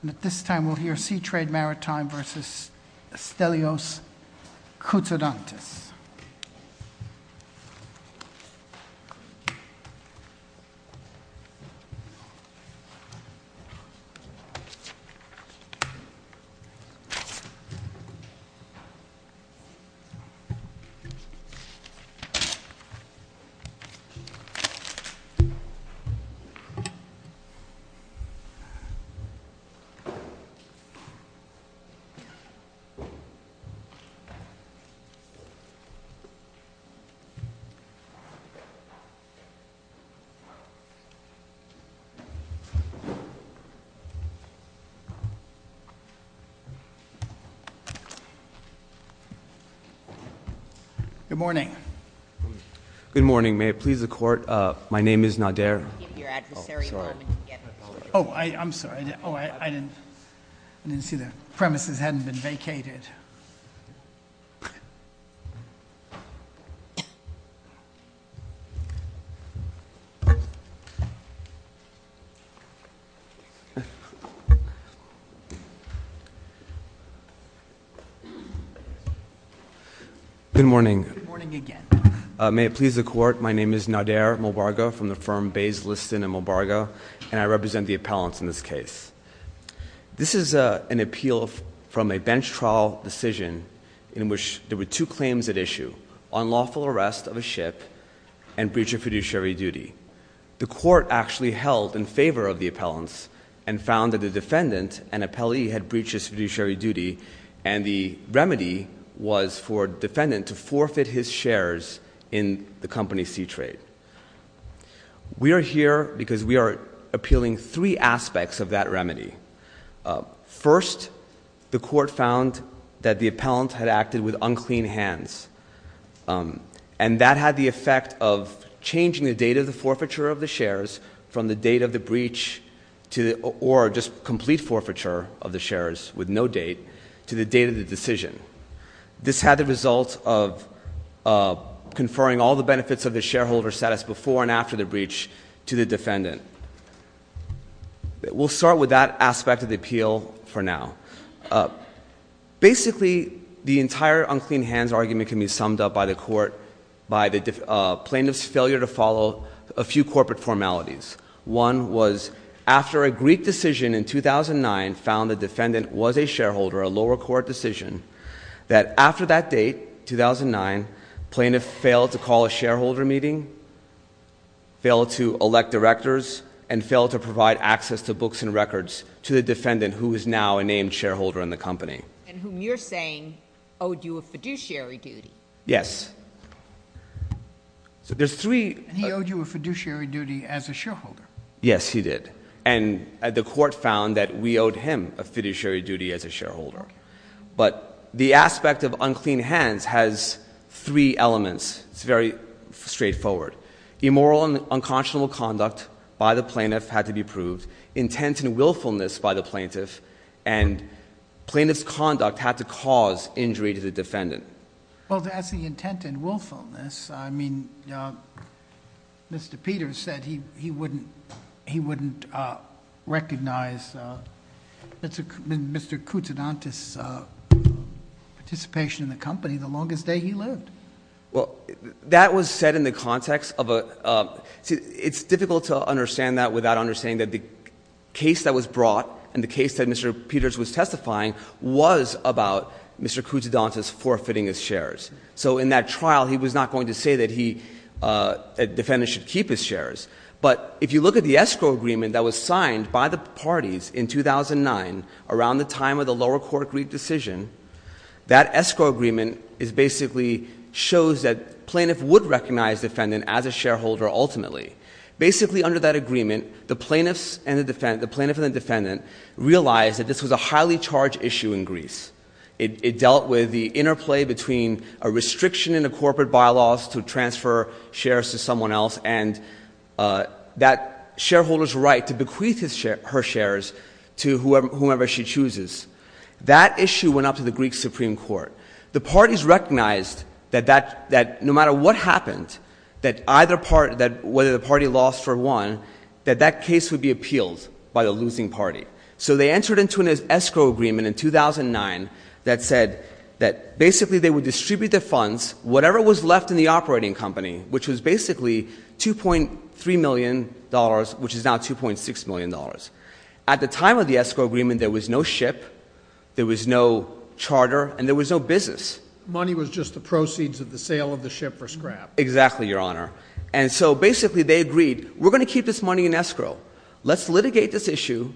And at this time we'll hear Sea Trade Maritime versus Stelios Koutsoudantis. Good morning. Good morning. May it please the court. My name is Nader. Oh, sorry. Oh, I'm sorry. Oh, I didn't see the premises hadn't been vacated. Good morning. Good morning again. May it please the court. My name is Nader Mubarga from the firm Bays Liston and Mubarga, and I represent the appellants in this case. This is an appeal from a bench trial decision in which there were two claims at issue, unlawful arrest of a ship and breach of fiduciary duty. The court actually held in favor of the appellants and found that the defendant, an appellee, had breached his fiduciary duty, and the remedy was for defendant to forfeit his shares in the company Sea Trade. We are here because we are appealing three aspects of that remedy. First, the court found that the appellant had acted with unclean hands, and that had the effect of changing the date of the forfeiture of the shares from the date of the breach or just complete forfeiture of the shares with no date to the date of the decision. This had the result of conferring all the benefits of the shareholder status before and after the breach to the defendant. We'll start with that aspect of the appeal for now. Basically, the entire unclean hands argument can be summed up by the court, by the plaintiff's failure to follow a few corporate formalities. One was after a Greek decision in 2009 found the defendant was a shareholder, a lower court decision, that after that date, 2009, plaintiff failed to call a shareholder meeting, failed to elect directors, and failed to provide access to books and records to the defendant who is now a named shareholder in the company. And whom you're saying owed you a fiduciary duty. Yes. He owed you a fiduciary duty as a shareholder. Yes, he did. And the court found that we owed him a fiduciary duty as a shareholder. But the aspect of unclean hands has three elements. It's very straightforward. Immoral and unconscionable conduct by the plaintiff had to be proved. Intent and willfulness by the plaintiff, and plaintiff's conduct had to cause injury to the defendant. Well, to ask the intent and willfulness, I mean, Mr. Peters said he wouldn't recognize Mr. Koutsoudantis' participation in the company the longest day he lived. Well, that was said in the context of a, it's difficult to understand that without understanding that the case that was brought, and the case that Mr. Peters was testifying, was about Mr. Koutsoudantis forfeiting his shares. So in that trial, he was not going to say that he, a defendant should keep his shares. But if you look at the escrow agreement that was signed by the parties in 2009, around the time of the lower court Greek decision, that escrow agreement is basically, shows that plaintiff would recognize defendant as a shareholder ultimately. Basically under that agreement, the plaintiffs and the defendant, the plaintiff and the defendant realized that this was a highly charged issue in Greece. It dealt with the interplay between a restriction in the corporate bylaws to transfer shares to someone else, and that shareholder's right to bequeath her shares to whomever she chooses. That issue went up to the Greek Supreme Court. The parties recognized that no matter what happened, that either party, whether the party lost or won, that that case would be appealed by the losing party. So they entered into an escrow agreement in 2009 that said that basically they would distribute the funds, whatever was left in the operating company, which was basically $2.3 million, which is now $2.6 million. At the time of the escrow agreement, there was no ship, there was no charter, and there was no business. Money was just the proceeds of the sale of the ship for scrap. Exactly, Your Honor. And so basically they agreed, we're going to keep this money in escrow. Let's litigate this issue.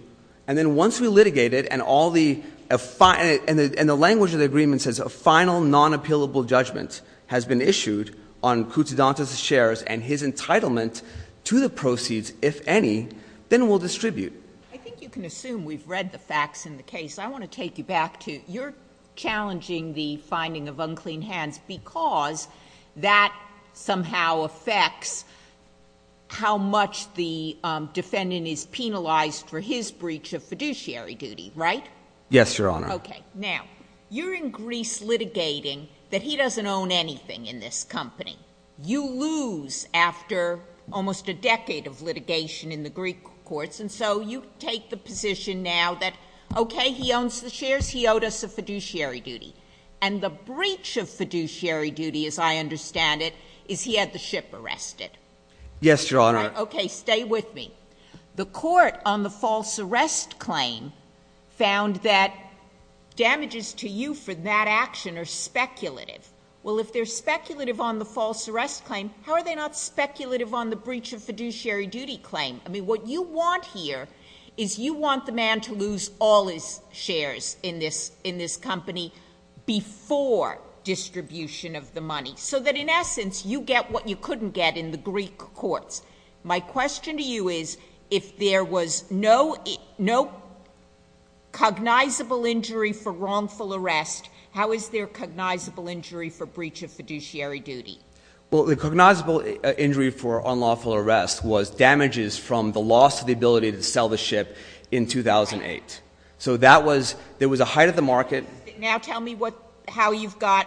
And then once we litigate it and the language of the agreement says a final non-appealable judgment has been issued on Koutsoudantas' shares and his entitlement to the proceeds, if any, then we'll distribute. I think you can assume we've read the facts in the case. I want to take you back to, you're challenging the finding of unclean hands because that somehow affects how much the defendant is penalized for his breach of fiduciary duty, right? Yes, Your Honor. Okay. Now, you're in Greece litigating that he doesn't own anything in this company. You lose after almost a decade of litigation in the Greek courts, and so you take the position now that, okay, he owns the shares, he owed us a fiduciary duty. And the breach of fiduciary duty, as I understand it, is he had the ship arrested. Yes, Your Honor. Okay, stay with me. The court on the false arrest claim found that damages to you for that action are speculative. Well, if they're speculative on the false arrest claim, how are they not speculative on the breach of fiduciary duty claim? I mean, what you want here is you want the man to lose all his shares in this company before distribution of the money so that, in essence, you get what you couldn't get in the Greek courts. My question to you is, if there was no cognizable injury for wrongful arrest, how is there cognizable injury for breach of fiduciary duty? Well, the cognizable injury for unlawful arrest was damages from the loss of the ability to sell the ship in 2008. So that was, there was a height of the market. Now tell me how you've got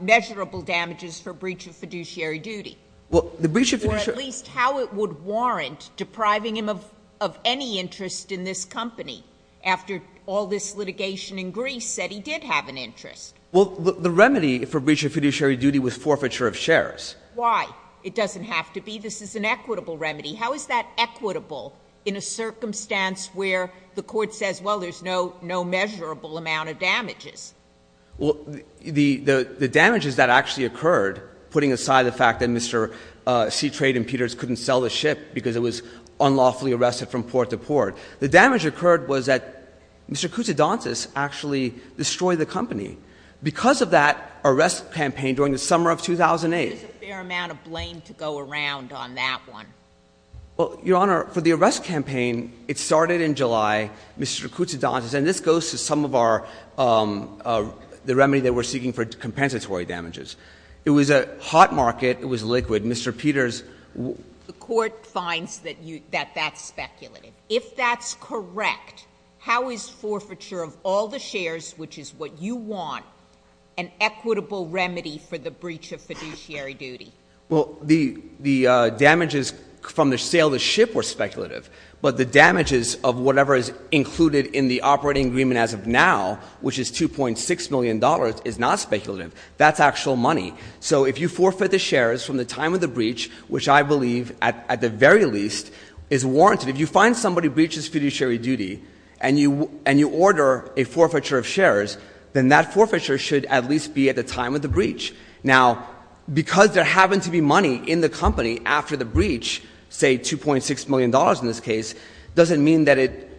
measurable damages for breach of fiduciary duty. Well, the breach of fiduciary duty— Or at least how it would warrant depriving him of any interest in this company after all this litigation in Greece said he did have an interest. Well, the remedy for breach of fiduciary duty was forfeiture of shares. Why? It doesn't have to be. This is an equitable remedy. How is that equitable in a circumstance where the court says, well, there's no measurable amount of damages? The damages that actually occurred, putting aside the fact that Mr. Seatrade and Peters couldn't sell the ship because it was unlawfully arrested from port to port, the damage occurred was that Mr. Koutsidontis actually destroyed the company because of that arrest campaign during the summer of 2008. There's a fair amount of blame to go around on that one. Well, Your Honor, for the arrest campaign, it started in July. Mr. Koutsidontis—and this goes to some of our—the remedy that we're seeking for compensatory damages. It was a hot market. It was liquid. Mr. Peters— The court finds that that's speculative. If that's correct, how is forfeiture of all the shares, which is what you want, an equitable remedy for the breach of fiduciary duty? Well, the damages from the sale of the ship were speculative, but the damages of whatever is included in the operating agreement as of now, which is $2.6 million, is not speculative. That's actual money. So if you forfeit the shares from the time of the breach, which I believe, at the very least, is warranted—if you find somebody who breaches fiduciary duty and you order a forfeiture of shares, then that forfeiture should at least be at the time of the breach. Now, because there happened to be money in the company after the breach—say, $2.6 million in this case—doesn't mean that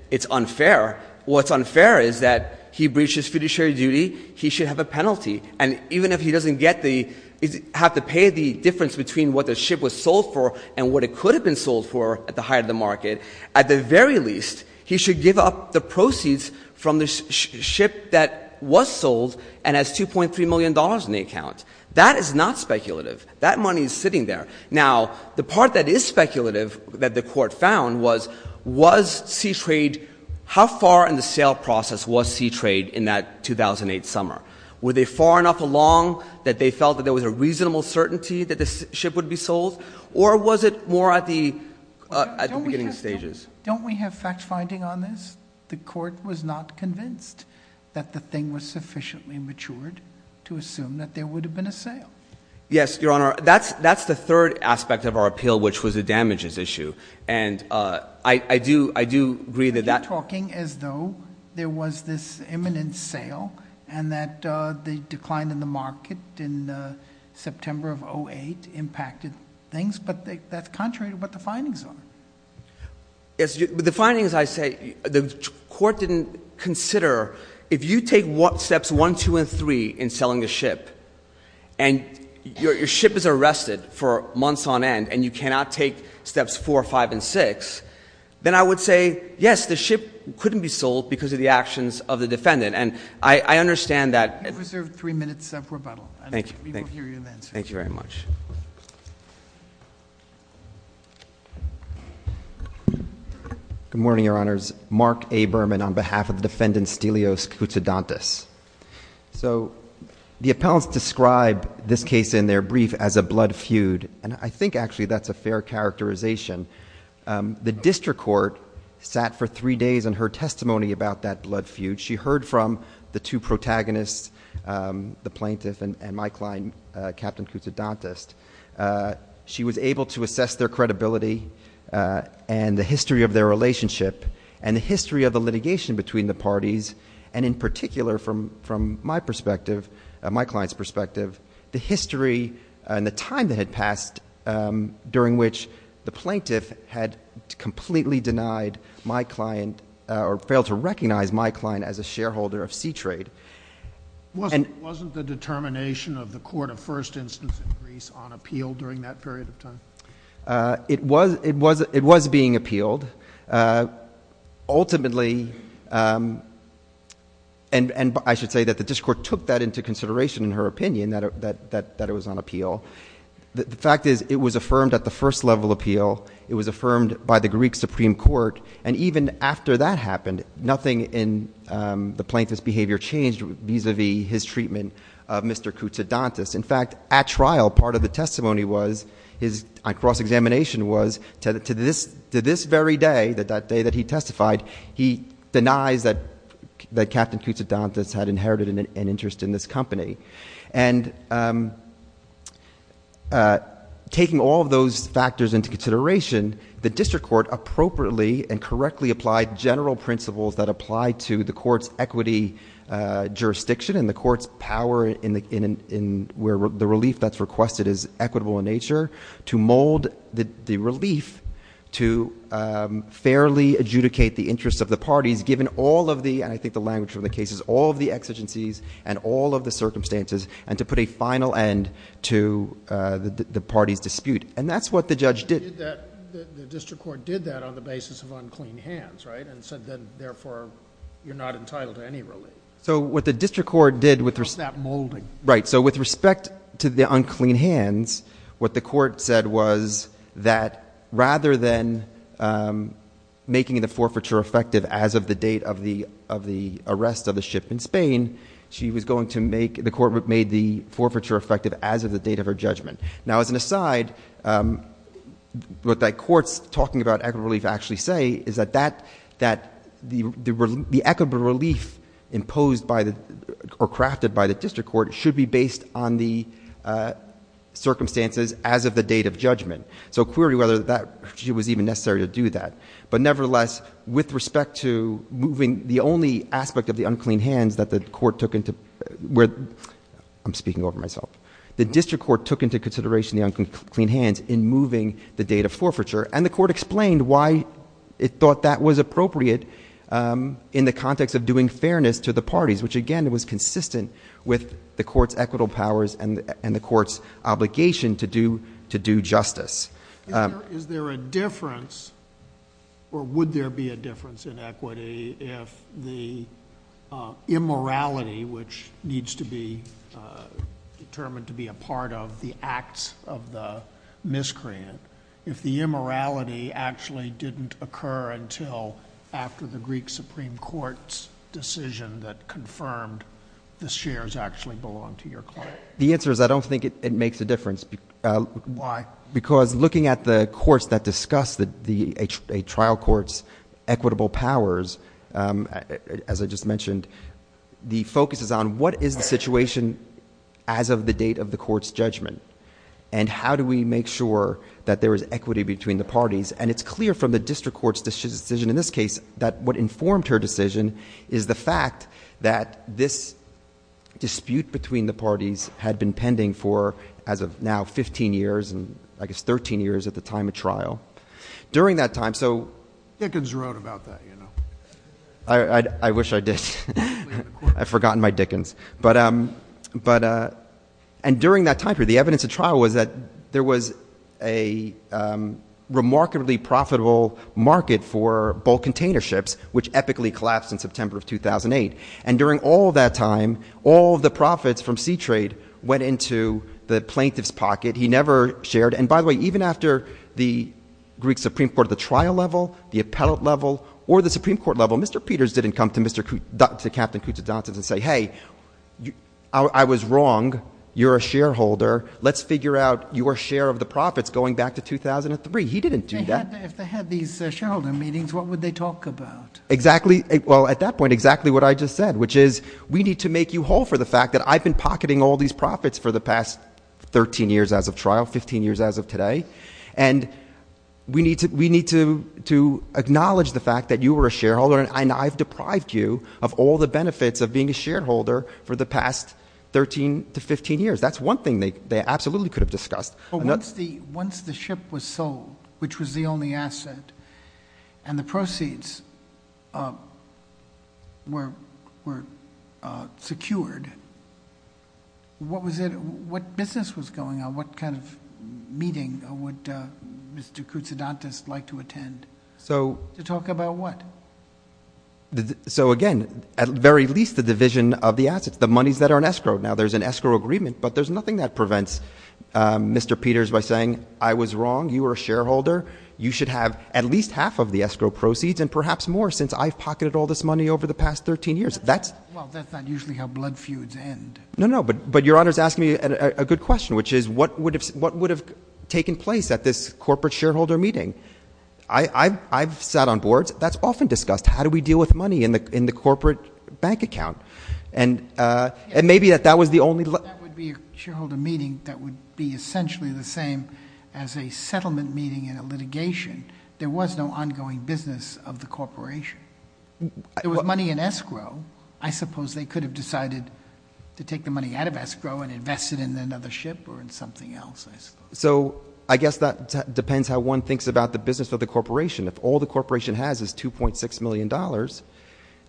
it's unfair. What's unfair is that he breaches fiduciary duty, he should have a penalty. And even if he doesn't get the—have to pay the difference between what the ship was sold for and what it could have been sold for at the height of the market, at the very least, he should give up the proceeds from the ship that was sold and has $2.3 million in the account. That is not speculative. That money is sitting there. Now, the part that is speculative that the Court found was, was SeaTrade—how far in the sale process was SeaTrade in that 2008 summer? Were they far enough along that they was a reasonable certainty that the ship would be sold? Or was it more at the beginning stages? Don't we have fact-finding on this? The Court was not convinced that the thing was sufficiently matured to assume that there would have been a sale. Yes, Your Honor. That's the third aspect of our appeal, which was the damages issue. And I do agree that that— No, there was this imminent sale, and that the decline in the market in September of 2008 impacted things. But that's contrary to what the findings are. The findings, I say, the Court didn't consider—if you take steps one, two, and three in selling a ship, and your ship is arrested for months on end, and you cannot take steps four, five, and six, then I would say, yes, the ship couldn't be sold because of the actions of the defendant. And I understand that— You have reserved three minutes for rebuttal. Thank you. And we will hear your answer. Thank you very much. Good morning, Your Honors. Mark A. Berman on behalf of the defendant, Stelios Koutsoudantos. So the appellants describe this case in their brief as a blood feud, and I think actually that's a fair characterization. The district court sat for three days and heard testimony about that blood feud. She heard from the two protagonists, the plaintiff and my client, Captain Koutsoudantos. She was able to assess their credibility and the history of their relationship, and the history of the litigation between the parties, and in particular, from my client's perspective, the history and the time that had passed during which the plaintiff had completely denied my client—or failed to recognize my client as a shareholder of C-Trade. Wasn't the determination of the court of first instance in Greece on appeal during that period of time? It was being appealed. Ultimately—and I should say that the district court took that into consideration in her opinion that it was on appeal—the fact is it was affirmed at the first level appeal. It was affirmed by the Greek Supreme Court, and even after that happened, nothing in the plaintiff's behavior changed vis-à-vis his treatment of Mr. Koutsoudantos. In fact, at trial, part of the testimony was—his cross-examination was—to this very day, that day that he testified, he denies that Captain Koutsoudantos had inherited an interest in this company. And taking all of those factors into consideration, the district court appropriately and correctly applied general principles that apply to the court's equity jurisdiction, and the court's power in where the relief that's requested is equitable in nature, to mold the relief to fairly adjudicate the interests of the parties, given all of the—and I think the language from the case is all of the exigencies and all of the circumstances—and to put a final end to the party's dispute. And that's what the judge did. The district court did that on the basis of unclean hands, right, and said then, therefore, you're not entitled to any relief. So what the district court did with— Not that molding. Right. So with respect to the unclean hands, what the court said was that rather than making the forfeiture effective as of the date of the arrest of the ship in Spain, she was going to make—the court made the forfeiture effective as of the date of her judgment. Now as an aside, what that court's talking about equitable relief actually say is that that—that the equitable relief imposed by the—or crafted by the district court should be based on the circumstances as of the date of judgment. So query whether that was even necessary to do that. But nevertheless, with respect to moving the only aspect of the unclean hands that the court took into—I'm speaking over myself. The district court took into consideration the unclean hands in moving the date of forfeiture, and the court explained why it thought that was appropriate in the context of doing fairness to the parties, which again was consistent with the court's equitable powers and the court's obligation to do justice. Is there a difference, or would there be a difference in equity if the immorality, which needs to be determined to be a part of the acts of the miscreant, if the immorality actually didn't occur until after the Greek Supreme Court's decision that confirmed the shares actually belonged to your client? The answer is I don't think it makes a difference. Why? Because looking at the courts that discuss a trial court's equitable powers, as I just mentioned, the focus is on what is the situation as of the date of the court's judgment, and how do we make sure that there is equity between the parties. And it's clear from the district court's decision in this case that what informed her decision is the fact that this dispute between the parties had been pending for, as of now, 15 years, and I guess 13 years at the time of trial. During that time, so— Dickens wrote about that, you know. I wish I did. I've forgotten my Dickens. But—and during that time period, the evidence of trial was that there was a remarkably profitable market for bulk container ships, which epically And during all that time, all the profits from C-Trade went into the plaintiff's pocket. He never shared—and by the way, even after the Greek Supreme Court at the trial level, the appellate level, or the Supreme Court level, Mr. Peters didn't come to Captain Koutsoudantas and say, hey, I was wrong. You're a shareholder. Let's figure out your share of the profits going back to 2003. He didn't do that. If they had these shareholder meetings, what would they talk about? Exactly—well, at that point, exactly what I just said, which is we need to make you whole for the fact that I've been pocketing all these profits for the past 13 years as of trial, 15 years as of today, and we need to acknowledge the fact that you were a shareholder and I've deprived you of all the benefits of being a shareholder for the past 13 to 15 years. That's one thing they absolutely could have discussed. Once the ship was sold, which was the only asset, and the proceeds were secured, what business was going on? What kind of meeting would Mr. Koutsoudantas like to attend? To talk about what? So again, at the very least, the division of the assets, the monies that are in escrow. Now there's an escrow agreement, but there's nothing that prevents Mr. Peters by saying I was wrong, you were a shareholder, you should have at least half of the escrow proceeds and perhaps more since I've pocketed all this money over the past 13 years. Well, that's not usually how blood feuds end. No, no, but Your Honor's asking me a good question, which is what would have taken place at this corporate shareholder meeting? I've sat on boards. That's often discussed. How do we deal with money in the corporate bank account? That would be a shareholder meeting that would be essentially the same as a settlement meeting in a litigation. There was no ongoing business of the corporation. There was money in escrow. I suppose they could have decided to take the money out of escrow and invest it in another ship or in something else, I suppose. So I guess that depends how one thinks about the business of the corporation. If all the $2.6 million,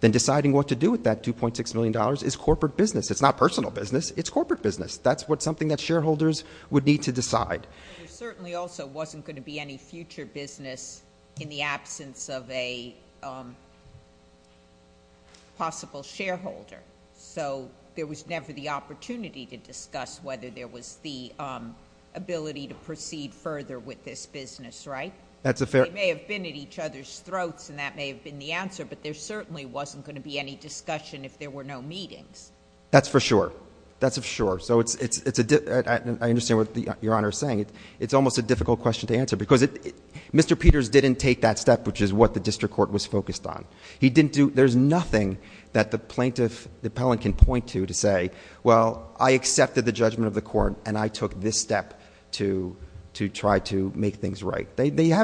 then deciding what to do with that $2.6 million is corporate business. It's not personal business. It's corporate business. That's something that shareholders would need to decide. There certainly also wasn't going to be any future business in the absence of a possible shareholder. So there was never the opportunity to discuss whether there was the ability to proceed further with this business, right? That's a fair— But there certainly wasn't going to be any discussion if there were no meetings. That's for sure. That's for sure. I understand what Your Honor is saying. It's almost a difficult question to answer because Mr. Peters didn't take that step, which is what the district court was focused on. There's nothing that the plaintiff, the appellant, can point to to say, well, I accepted the judgment of the court and I took this step to try to make things right. They still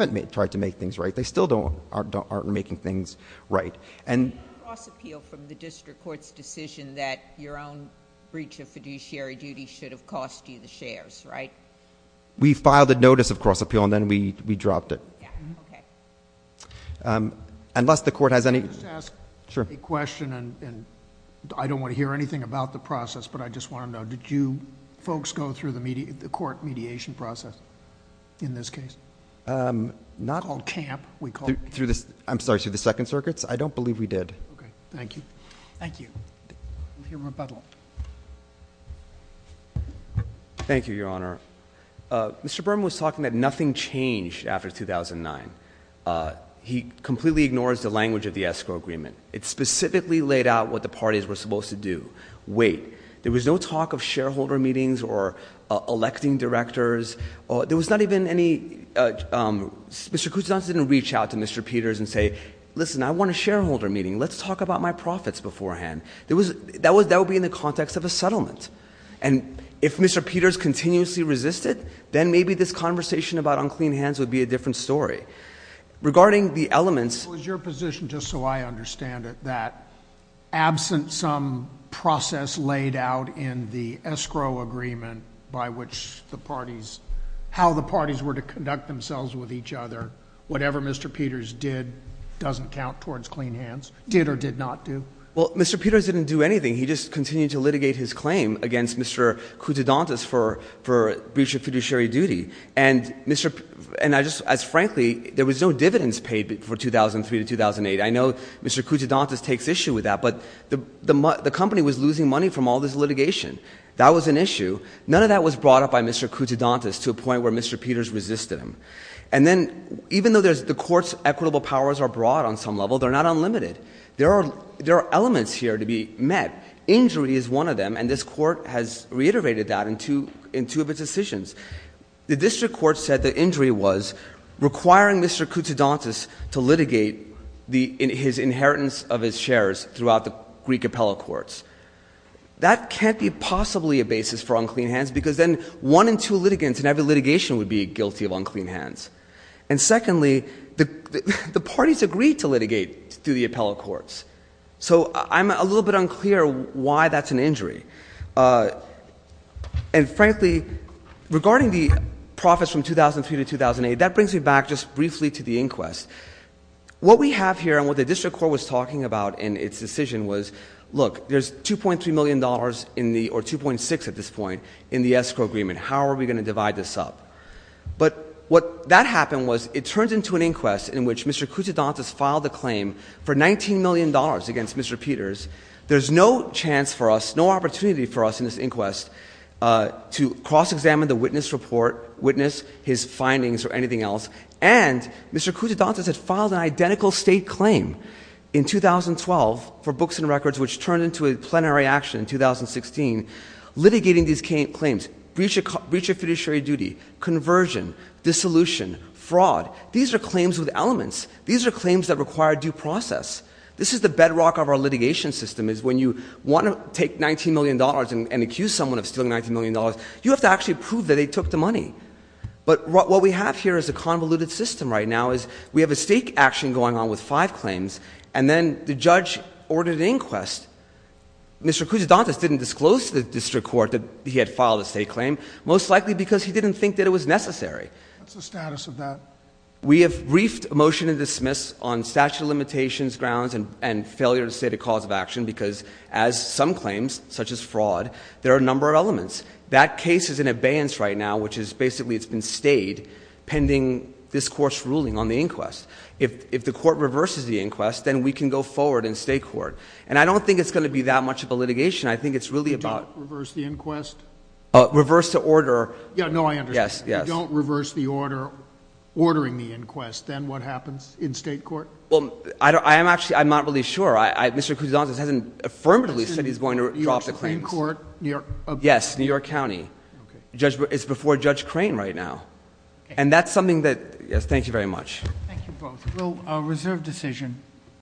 aren't making things right. You didn't cross-appeal from the district court's decision that your own breach of fiduciary duty should have cost you the shares, right? We filed a notice of cross-appeal and then we dropped it. Yeah, okay. Unless the court has any— Can I just ask a question? I don't want to hear anything about the process, but I just want to know, did you folks go through the court mediation process in this case? Not— We called camp. I'm sorry, through the Second Circuits? I don't believe we did. Thank you. Thank you. We'll hear rebuttal. Thank you, Your Honor. Mr. Berman was talking that nothing changed after 2009. He completely ignores the language of the escrow agreement. It specifically laid out what the parties were supposed to do. Wait. There was no talk of shareholder meetings or electing directors. There was not even any—Mr. Kucinich didn't reach out to Mr. Peters and say, listen, I want a shareholder meeting. Let's talk about my profits beforehand. That would be in the context of a settlement. And if Mr. Peters continuously resisted, then maybe this conversation about unclean hands would be a different story. Regarding the elements— It was your position, just so I understand it, that absent some process laid out in the case, how the parties were to conduct themselves with each other, whatever Mr. Peters did doesn't count towards clean hands? Did or did not do? Well, Mr. Peters didn't do anything. He just continued to litigate his claim against Mr. Kutudantas for breach of fiduciary duty. And I just—as frankly, there was no dividends paid for 2003 to 2008. I know Mr. Kutudantas takes issue with that, but the company was losing money from all this litigation. That was an issue. None of that was brought up by Mr. Kutudantas to a point where Mr. Peters resisted him. And then, even though the court's equitable powers are broad on some level, they're not unlimited. There are elements here to be met. Injury is one of them, and this court has reiterated that in two of its decisions. The district court said the injury was requiring Mr. Kutudantas to litigate his inheritance of his shares throughout the Greek appellate courts. That can't be possibly a one-in-two litigant, and every litigation would be guilty of unclean hands. And secondly, the parties agreed to litigate through the appellate courts. So I'm a little bit unclear why that's an injury. And frankly, regarding the profits from 2003 to 2008, that brings me back just briefly to the inquest. What we have here and what the district court was talking about in its decision was, look, there's $2.3 million in the—or $2.6 million at this point in the escrow agreement. How are we going to divide this up? But what—that happened was it turned into an inquest in which Mr. Kutudantas filed a claim for $19 million against Mr. Peters. There's no chance for us, no opportunity for us in this inquest to cross-examine the witness report, witness his findings or anything else. And Mr. Kutudantas had filed an identical state claim in 2012 for books and records, which turned into a plenary action in 2016 litigating these claims. Breach of fiduciary duty, conversion, dissolution, fraud. These are claims with elements. These are claims that require due process. This is the bedrock of our litigation system is when you want to take $19 million and accuse someone of stealing $19 million, you have to actually prove that they took the money. But what we have here is a convoluted system right now is we have a state action going on with five claims, and then the judge ordered an inquest. Mr. Kutudantas didn't disclose to the district court that he had filed a state claim, most likely because he didn't think that it was necessary. What's the status of that? We have briefed a motion to dismiss on statute of limitations grounds and failure to state a cause of action because as some claims, such as fraud, there are a number of elements. That case is in abeyance right now, which is basically it's been stayed pending this court reverses the inquest, then we can go forward in state court. And I don't think it's going to be that much of a litigation. I think it's really about reverse to order. Yes. Yes. Don't reverse the order, ordering the inquest. Then what happens in state court? Well, I don't, I am actually, I'm not really sure. I, I, Mr. Kutudantas hasn't affirmatively said he's going to drop the claims court. Yes. New York County judge is before judge crane right now. And that's something that, yes. Thank you very much. Thank you both. We'll reserve decision.